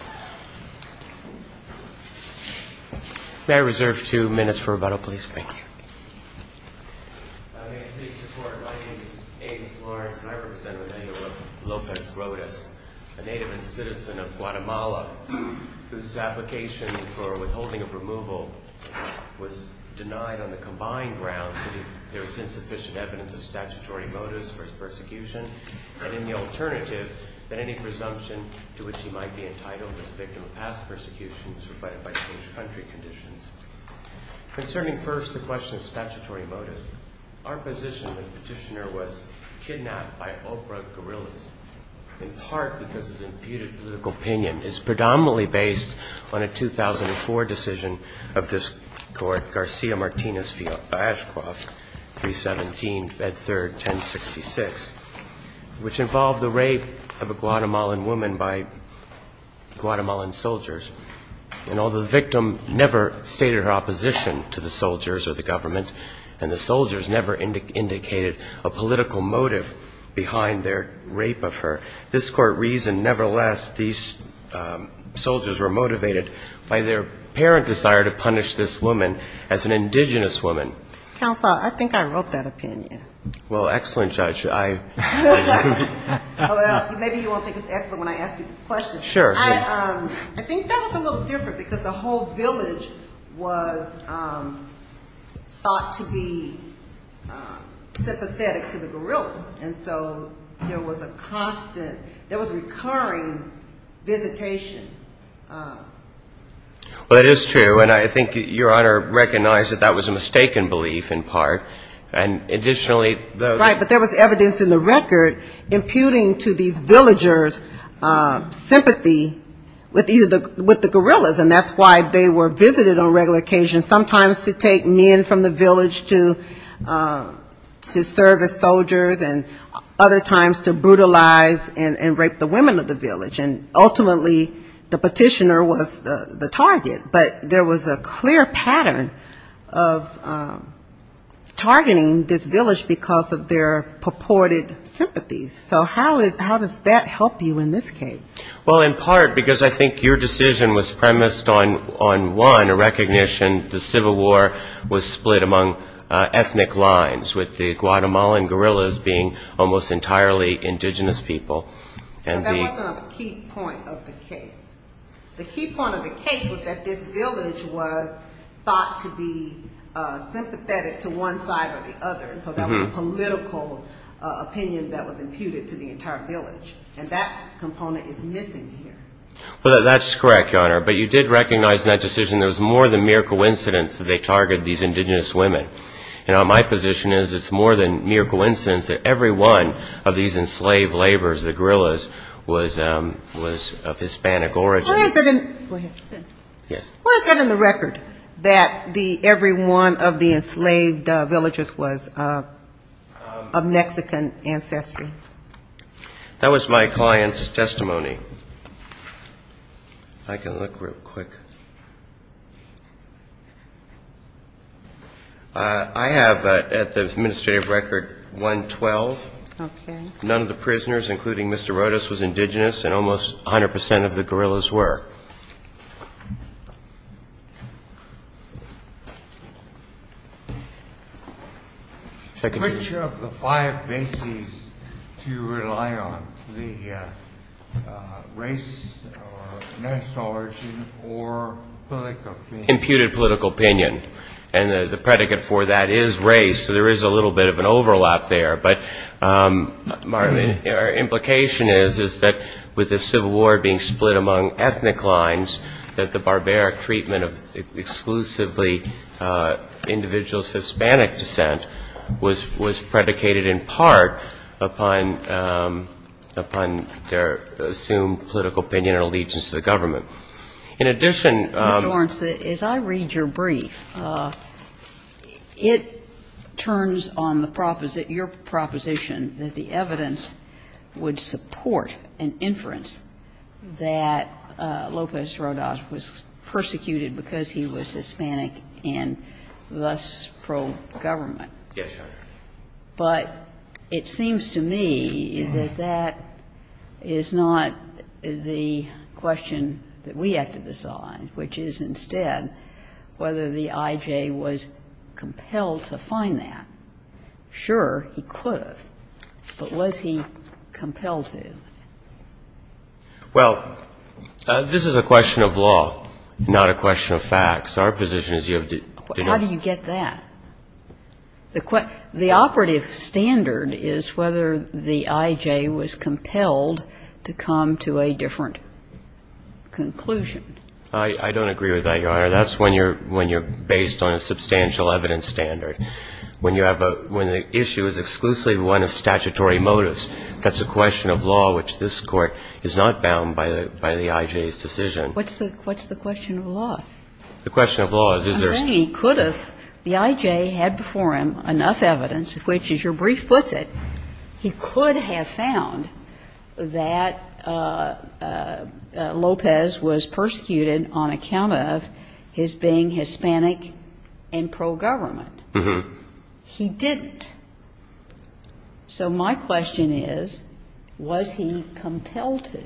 May I reserve two minutes for rebuttal, please? Thank you. May I ask for your support? My name is Agus Lawrence and I represent the native of Lopez Rodas, a native and citizen of Guatemala, whose application for withholding of removal was denied on the combined grounds that there was insufficient evidence of statutory motives for his persecution, and in the alternative, that any presumption to which he might be entitled was denied. He was a victim of past persecutions rebutted by state or country conditions. Concerning first the question of statutory motives, our position when the petitioner was kidnapped by Oprah Gorillaz, in part because of his imputed political opinion, is predominantly based on a 2004 decision of this court, Garcia-Martinez-Ashcroft, 317, Fed 3rd, 1066, which involved the rape of a Guatemalan woman by Guatemalan soldiers, and although the victim never stated her opposition to the soldiers or the government, and the soldiers never indicated a political motive behind their rape of her, this court reasoned nevertheless these soldiers were motivated by their apparent desire to punish this woman as an indigenous woman. Counsel, I think I wrote that opinion. Well, excellent, Judge. Well, maybe you won't think it's excellent when I ask you this question. Sure. I think that was a little different because the whole village was thought to be sympathetic to the Gorillaz, and so there was a constant, there was a recurring visitation. Well, it is true, and I think Your Honor recognized that that was a mistaken belief in part, and additionally the ---- Right, but there was evidence in the record imputing to these villagers sympathy with the Gorillaz, and that's why they were visited on regular occasions, sometimes to take men from the village to serve as soldiers, and other times to brutalize and rape the women of the village. And ultimately the petitioner was the target, but there was a clear pattern of targeting this village because of their purported sympathies. So how does that help you in this case? Well, in part because I think your decision was premised on one, a recognition the Civil War was split among ethnic lines, with the Guatemalan Gorillaz being almost entirely indigenous people. No, that wasn't a key point of the case. The key point of the case was that this village was thought to be sympathetic to one side or the other, and so that was a political opinion that was imputed to the entire village, and that component is missing here. Well, that's correct, Your Honor, but you did recognize in that decision there was more than mere coincidence that they targeted these indigenous women. You know, my position is it's more than mere coincidence that every one of these enslaved laborers, the Gorillaz, was of Hispanic origin. What is it in the record that every one of the enslaved villagers was of Mexican ancestry? That was my client's testimony. If I can look real quick. I have, at the administrative record, 112. Okay. None of the prisoners, including Mr. Rodas, was indigenous, and almost 100 percent of the Gorillaz were. Which of the five bases do you rely on, the race or national origin or ethnic origin? Imputed political opinion, and the predicate for that is race, so there is a little bit of an overlap there, but our implication is that with the Civil War being split among ethnic lines, that the barbaric treatment of exclusively individuals of Hispanic descent was predicated in part upon their assumed political opinion and allegiance to the government. In addition, I'm going to say, as I read your brief, it turns on the proposition that the evidence would support an inference that Lopez Rodas was persecuted because he was Hispanic and thus pro-government. Yes, Your Honor. But it seems to me that that is not the question that we have to decide, which is instead whether the I.J. was compelled to find that. Sure, he could have, but was he compelled to? Well, this is a question of law, not a question of facts. Our position is you have to know. How do you get that? The operative standard is whether the I.J. was compelled to come to a different conclusion. I don't agree with that, Your Honor. That's when you're based on a substantial evidence standard. When the issue is exclusively one of statutory motives, that's a question of law, which this Court is not bound by the I.J.'s decision. What's the question of law? The question of law is, is there a standard? I'm saying he could have, the I.J. had before him enough evidence, which as your brief puts it, he could have found that Lopez was persecuted on account of his being Hispanic and pro-government. Mm-hmm. He didn't. So my question is, was he compelled to?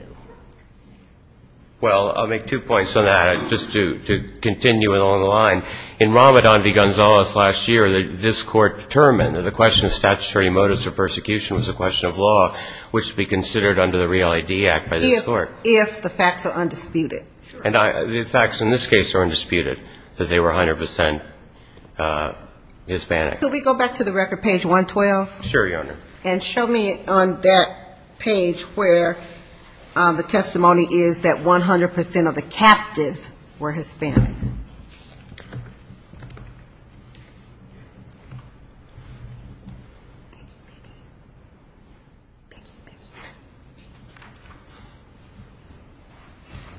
Well, I'll make two points on that, just to continue along the line. In Ramadan v. Gonzalez last year, this Court determined that the question of statutory motives for persecution was a question of law, which would be considered under the REAL ID Act by this Court. If the facts are undisputed. And the facts in this case are undisputed, that they were 100 percent Hispanic. Could we go back to the record, page 112? Sure, Your Honor. And show me on that page where the testimony is that 100 percent of the captives were Hispanic.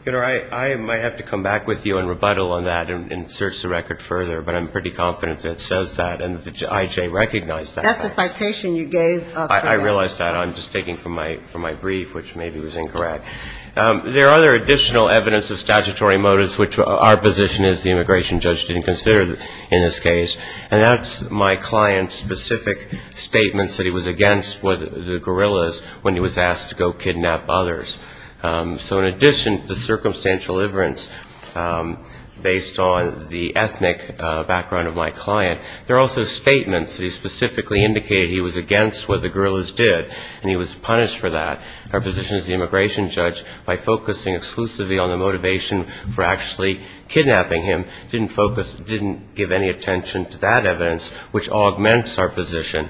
Your Honor, I might have to come back with you and rebuttal on that and search the record further, but I'm pretty confident that it says that and that the I.J. recognized that fact. That's the citation you gave us for that. I realize that. I'm just taking from my brief, which maybe was incorrect. There are other additional evidence of statutory motives, which our position is the immigration judge didn't consider in this case. And that's my client's specific statements that he was against the guerrillas when he was asked to go kidnap others. So in addition to the circumstantial evidence based on the ethnic background of my client, there are also statements that he specifically indicated he was against what the guerrillas did, and he was punished for that. Our position as the immigration judge, by focusing exclusively on the motivation for actually kidnapping him, didn't focus, didn't give any attention to that evidence, which augments our position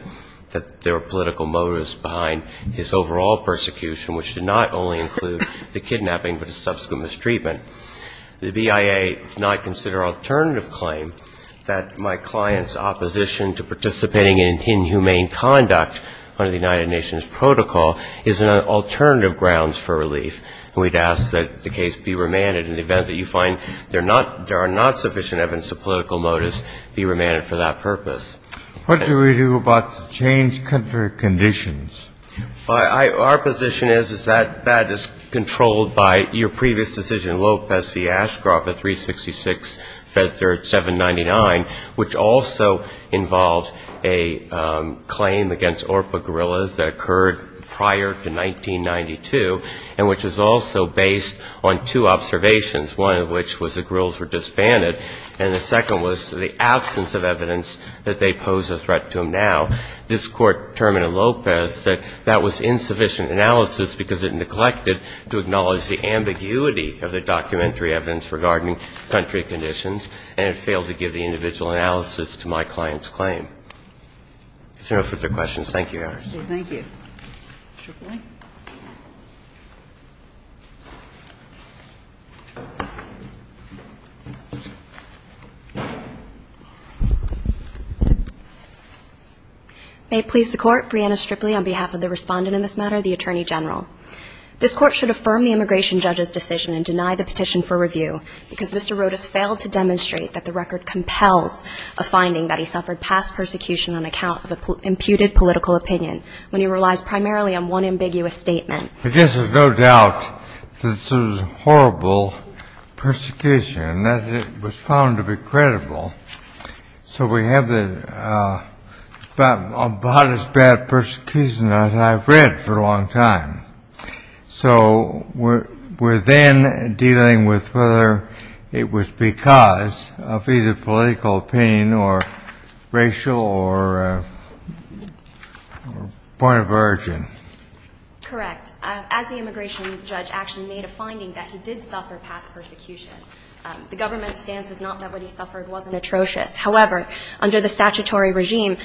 that there were political motives behind his overall persecution, which did not only include the kidnapping, but the subsequent mistreatment. The BIA did not consider alternative claim that my client's opposition to participating in inhumane conduct under the United Nations protocol is an alternative grounds for relief. And we'd ask that the case be remanded in the event that you find there are not sufficient evidence of political motives, be remanded for that purpose. Kennedy. What do we do about the change for conditions? Well, our position is that that is controlled by your previous decision, Lopez v. Ashcroft, at 366 Fed Third 799, which also involved a claim against ORPA guerrillas that occurred prior to 1992, and which was also based on two observations, one of which was the guerrillas were disbanded, and the second was the absence of evidence that they pose a threat to him now. This Court determined in Lopez that that was insufficient analysis because it neglected to acknowledge the ambiguity of the documentary evidence regarding country conditions, and it failed to give the individual analysis to my client's claim. If there are no further questions, thank you, Your Honor. Thank you. Stripley. May it please the Court, Brianna Stripley on behalf of the respondent in this matter, the Attorney General. This Court should affirm the immigration judge's decision and deny the petition for review because Mr. Rodas failed to demonstrate that the record compels a finding that he suffered past persecution on account of imputed political opinion, when he relies primarily on one ambiguous statement. I guess there's no doubt that this was horrible persecution and that it was found to be credible. So we have the about as bad persecution as I've read for a long time. So we're then dealing with whether it was because of either political opinion or racial or point of origin. Correct. As the immigration judge actually made a finding that he did suffer past persecution. The government's stance is not that what he suffered wasn't atrocious. However, under the statutory regime,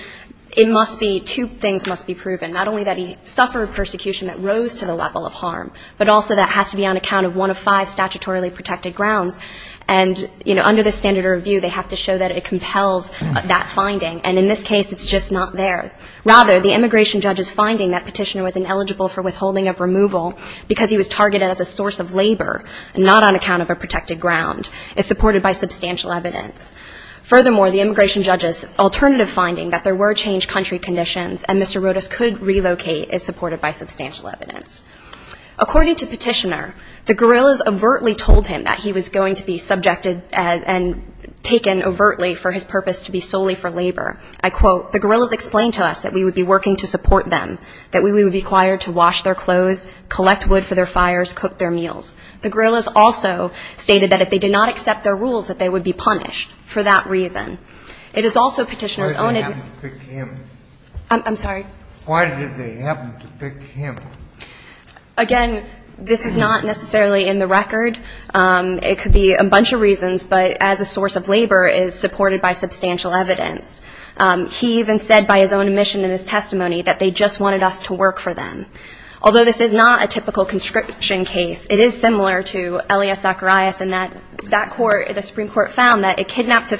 it must be, two things must be proven, not only that he suffered persecution that rose to the level of harm, but also that has to be on account of one of five statutorily protected grounds. And, you know, under the standard of review, they have to show that it compels that finding. And in this case, it's just not there. Rather, the immigration judge's finding that Petitioner was ineligible for withholding of removal because he was targeted as a source of labor, not on account of a protected ground, is supported by substantial evidence. Furthermore, the immigration judge's alternative finding that there were changed country conditions and Mr. Rodas could relocate is supported by substantial evidence. According to Petitioner, the guerrillas overtly told him that he was going to be subjected and taken overtly for his purpose to be solely for labor. I quote, "...the guerrillas explained to us that we would be working to support them, that we would be required to wash their clothes, collect wood for their fires, cook their meals. The guerrillas also stated that if they did not accept their rules, that they would be punished for that reason." It is also Petitioner's own admixture. Kennedy. Why did they have to pick him? I'm sorry? Why did they have to pick him? Again, this is not necessarily in the record. It could be a bunch of reasons, but as a source of labor is supported by substantial evidence. He even said by his own admission in his testimony that they just wanted us to work for them. Although this is not a typical conscription case, it is similar to Elias Zacharias in that that court, the Supreme Court found that it kidnapped to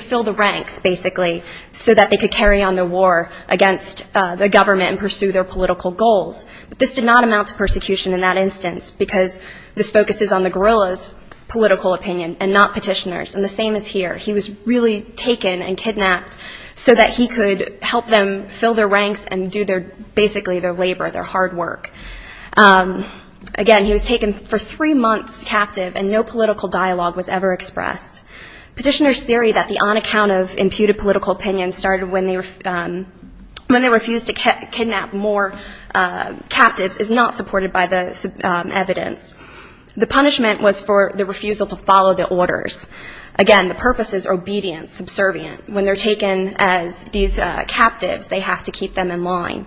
fill the ranks, basically, so that they could carry on the war against the government and pursue their political goals. But this did not amount to persecution in that instance, because this focuses on the guerrillas' political opinion and not Petitioner's. And the same is here. He was really taken and kidnapped so that he could help them fill their ranks and do their, basically, their labor, their hard work. Again, he was taken for three months captive, and no political dialogue was ever expressed. Petitioner's theory that the on-account of imputed political opinion started when they refused to kidnap more captives is not supported by the evidence. The punishment was for the refusal to follow the orders. Again, the purpose is obedience, subservient. When they're taken as these captives, they have to keep them in line.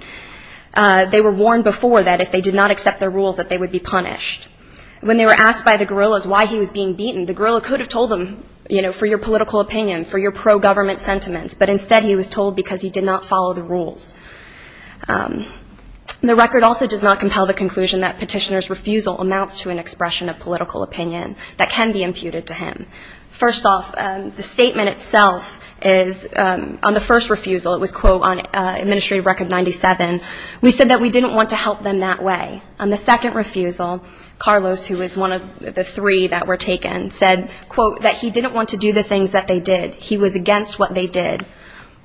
They were warned before that if they did not accept their rules, that they would be punished. When they were asked by the guerrillas why he was being beaten, the guerrilla could have told them, you know, for your political opinion, for your pro-government sentiments, but instead he was told because he did not follow the rules. The record also does not compel the conclusion that Petitioner's refusal amounts to an expression of political opinion that can be imputed to him. First off, the statement itself is, on the first refusal, it was, quote, on Administrative Record 97, we said that we didn't want to help them that way. On the second refusal, Carlos, who was one of the three that were taken, said, quote, that he didn't want to do the things that they did. He was against what they did.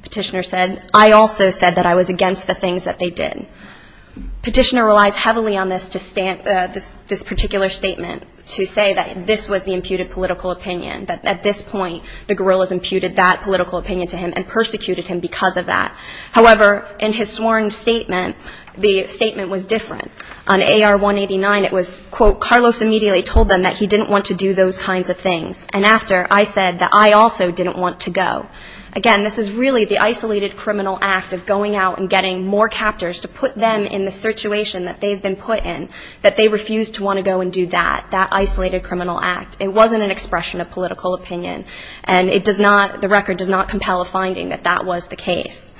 Petitioner said, I also said that I was against the things that they did. Petitioner relies heavily on this to stand, this particular statement to say that this was the imputed political opinion, that at this point the guerrillas imputed that political opinion to him and persecuted him because of that. However, in his sworn statement, the statement was different. On AR-189, it was, quote, Carlos immediately told them that he didn't want to do those kinds of things. And after, I said that I also didn't want to go. Again, this is really the isolated criminal act of going out and getting more captors to put them in the situation that they've been put in, that they refused to want to go and do that, that isolated criminal act. It wasn't an expression of political opinion. And it does not, the record does not compel a finding that that was the case.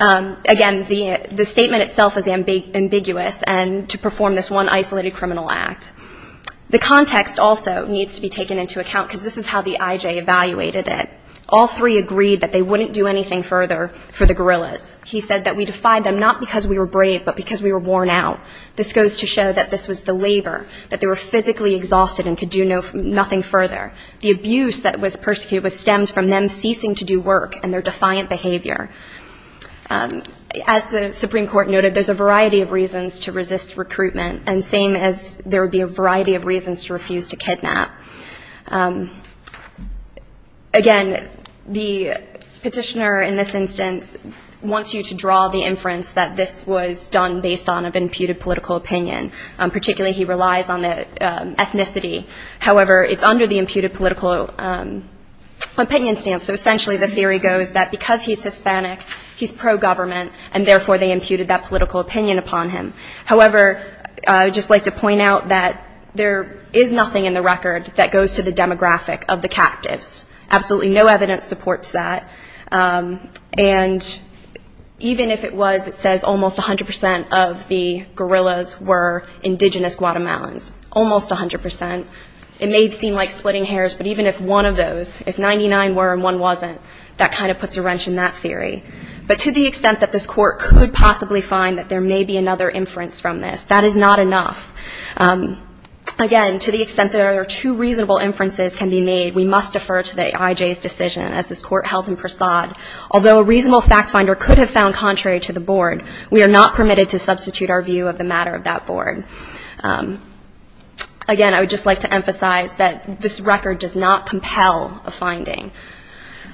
Again, the statement itself is ambiguous, and to perform this one isolated criminal act. The context also needs to be taken into account, because this is how the IJ evaluated it. All three agreed that they wouldn't do anything further for the guerrillas. He said that we defied them not because we were brave, but because we were worn out. This goes to show that this was the labor, that they were physically exhausted and could do nothing further. The abuse that was persecuted was stemmed from them ceasing to do work and their defiant behavior. As the Supreme Court noted, there's a variety of reasons to resist recruitment, and same as there would be a variety of reasons to refuse to kidnap. Again, the petitioner in this instance wants you to draw the inference that this was done based on an imputed political opinion. Particularly, he relies on the ethnicity. However, it's under the imputed political opinion stance. So essentially, the theory goes that because he's Hispanic, he's pro-government, and therefore, they imputed that political opinion upon him. However, I would just like to point out that there is nothing in the record that goes to the demographic of the captives. Absolutely no evidence supports that. And even if it was, it says almost 100 percent of the guerrillas were indigenous Guatemalans, almost 100 percent. It may seem like splitting hairs, but even if one of those, if 99 were and one wasn't, that kind of puts a wrench in that theory. But to the extent that this court could possibly find that there may be another inference from this, that is not enough. Again, to the extent that there are two reasonable inferences can be made, we must defer to the IJ's decision as this court held in Prasad. Although a reasonable fact finder could have found contrary to the board, we are not permitted to substitute our view of the matter of that board. Again, I would just like to emphasize that this record does not compel a finding.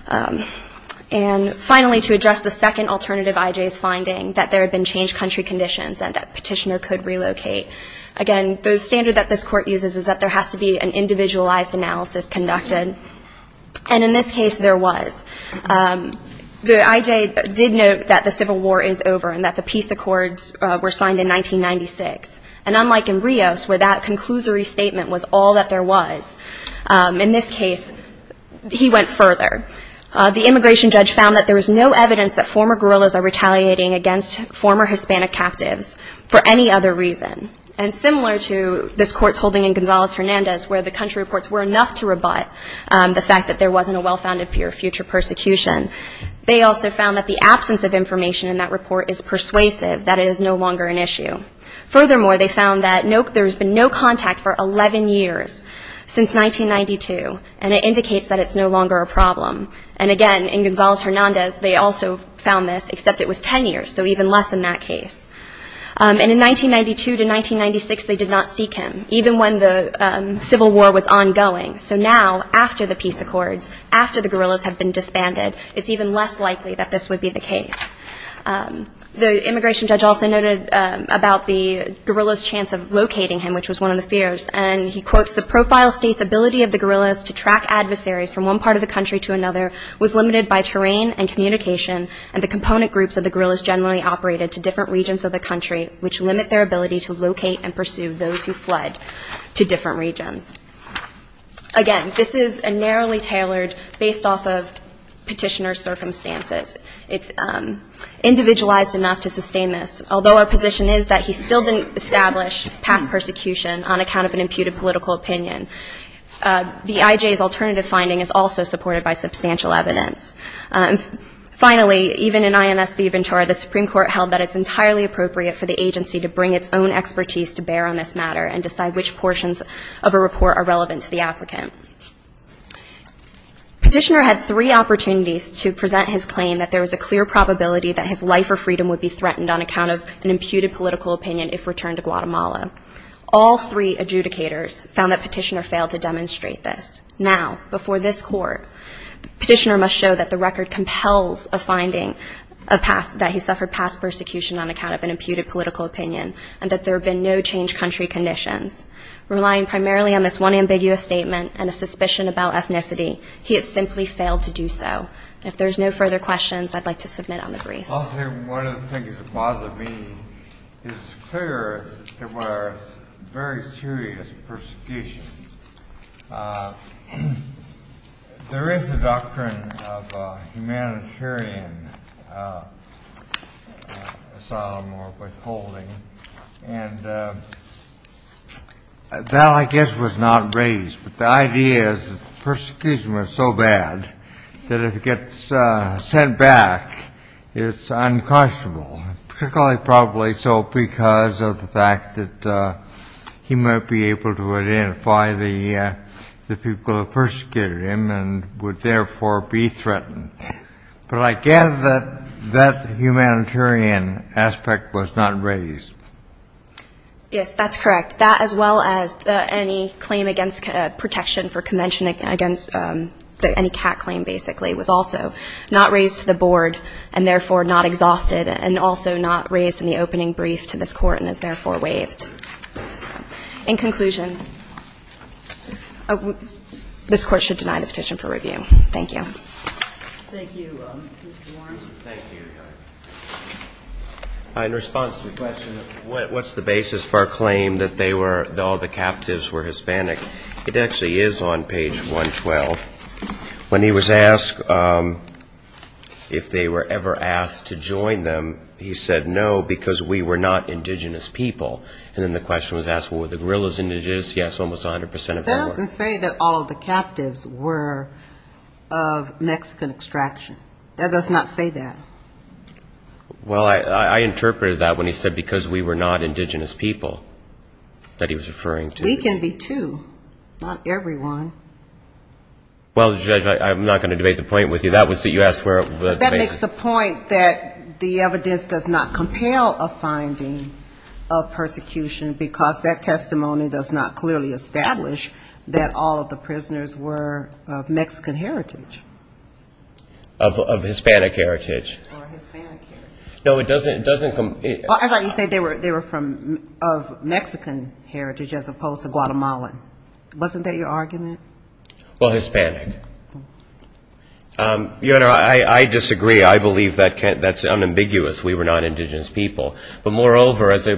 And finally, to address the second alternative IJ's finding, that there had been changed country conditions and that petitioner could relocate. Again, the standard that this court uses is that there has to be an individualized analysis conducted. And in this case, there was. The IJ did note that the Civil War is over and that the peace accords were signed in 1996. And unlike in Rios, where that conclusory statement was all that there was, in this case, he went further. The immigration judge found that there was no evidence that former guerrillas are retaliating against former Hispanic captives for any other reason. And similar to this court's holding in Gonzales-Hernandez, where the country reports were enough to rebut the fact that there wasn't a well-founded fear of future persecution, they also found that the absence of information in that report is persuasive, that it is no longer an issue. Furthermore, they found that there has been no contact for 11 years since 1992, and it indicates that it's no longer a problem. And again, in Gonzales-Hernandez, they also found this, except it was 10 years, so even less in that case. And in 1992 to 1996, they did not seek him, even when the Civil War was ongoing. So now, after the peace accords, after the guerrillas have been disbanded, it's even less likely that this would be the case. The immigration judge also noted about the guerrillas' chance of locating him, which was one of the fears. And he quotes, The profile states ability of the guerrillas to track adversaries from one part of the country to another was limited by terrain and communication, and the component groups of the guerrillas generally operated to different regions of the country, which limit their ability to locate and pursue those who fled to different regions. Again, this is a narrowly tailored, based off of petitioner's circumstances. It's individualized enough to sustain this. Although our position is that he still didn't establish past persecution on account of an imputed political opinion, the IJ's alternative finding is also supported by substantial evidence. Finally, even in INS Viventura, the Supreme Court held that it's entirely appropriate for the agency to bring its own expertise to bear on this matter and decide which portions of a report are relevant to the applicant. Petitioner had three opportunities to present his claim that there was a clear probability that his life or freedom would be threatened on account of an imputed political opinion if returned to Guatemala. All three adjudicators found that petitioner failed to demonstrate this. Now, before this court, petitioner must show that the record compels a finding of past, that he suffered past persecution on account of an imputed political opinion and that there have been no changed country conditions. Relying primarily on this one ambiguous statement and a suspicion about ethnicity, he has simply failed to do so. If there's no further questions, I'd like to submit on the brief. One of the things that bothers me is it's clear there was very serious persecution. There is a doctrine of humanitarian asylum or withholding, and that, I guess, was not raised. But the idea is that the persecution was so bad that if it gets sent back, it's unconscionable, particularly probably so because of the fact that he might be able to identify the people who persecuted him and would therefore be threatened. But I gather that that humanitarian aspect was not raised. Yes, that's correct. That, as well as any claim against protection for convention against any cat claim, basically, was also not raised to the board and therefore not exhausted and also not raised in the opening brief to this Court and is therefore waived. In conclusion, this Court should deny the petition for review. Thank you. Thank you, Mr. Warren. Thank you. In response to the question of what's the basis for a claim that all the captives were Hispanic, it actually is on page 112. When he was asked if they were ever asked to join them, he said, no, because we were not indigenous people. And then the question was asked, well, were the guerrillas indigenous? Yes, almost 100 percent of them were. That doesn't say that all of the captives were of Mexican extraction. That does not say that. Well, I interpreted that when he said because we were not indigenous people that he was referring to. We can be, too. Not everyone. Well, Judge, I'm not going to debate the point with you. That was that you asked for a basis. That makes the point that the evidence does not compel a finding of persecution because that testimony does not clearly establish that all of the prisoners were of Mexican heritage. Of Hispanic heritage. Or Hispanic heritage. No, it doesn't. I thought you said they were of Mexican heritage as opposed to Guatemalan. Wasn't that your argument? Well, Hispanic. Your Honor, I disagree. I believe that's unambiguous, we were not indigenous people. But moreover, as I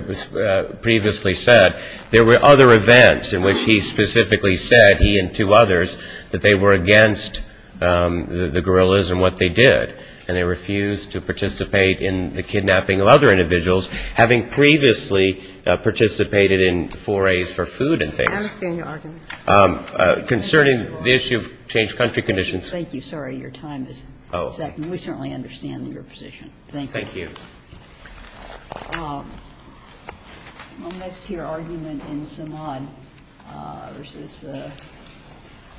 previously said, there were other events in which he specifically said, he and two others, that they were against the guerrillas and what they did. And they refused to participate in the kidnapping of other individuals, having previously participated in forays for food and things. I understand your argument. Concerning the issue of changed country conditions. Thank you. Sorry, your time is up. We certainly understand your position. Thank you. Thank you. My next here argument is Samad versus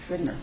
Gridner.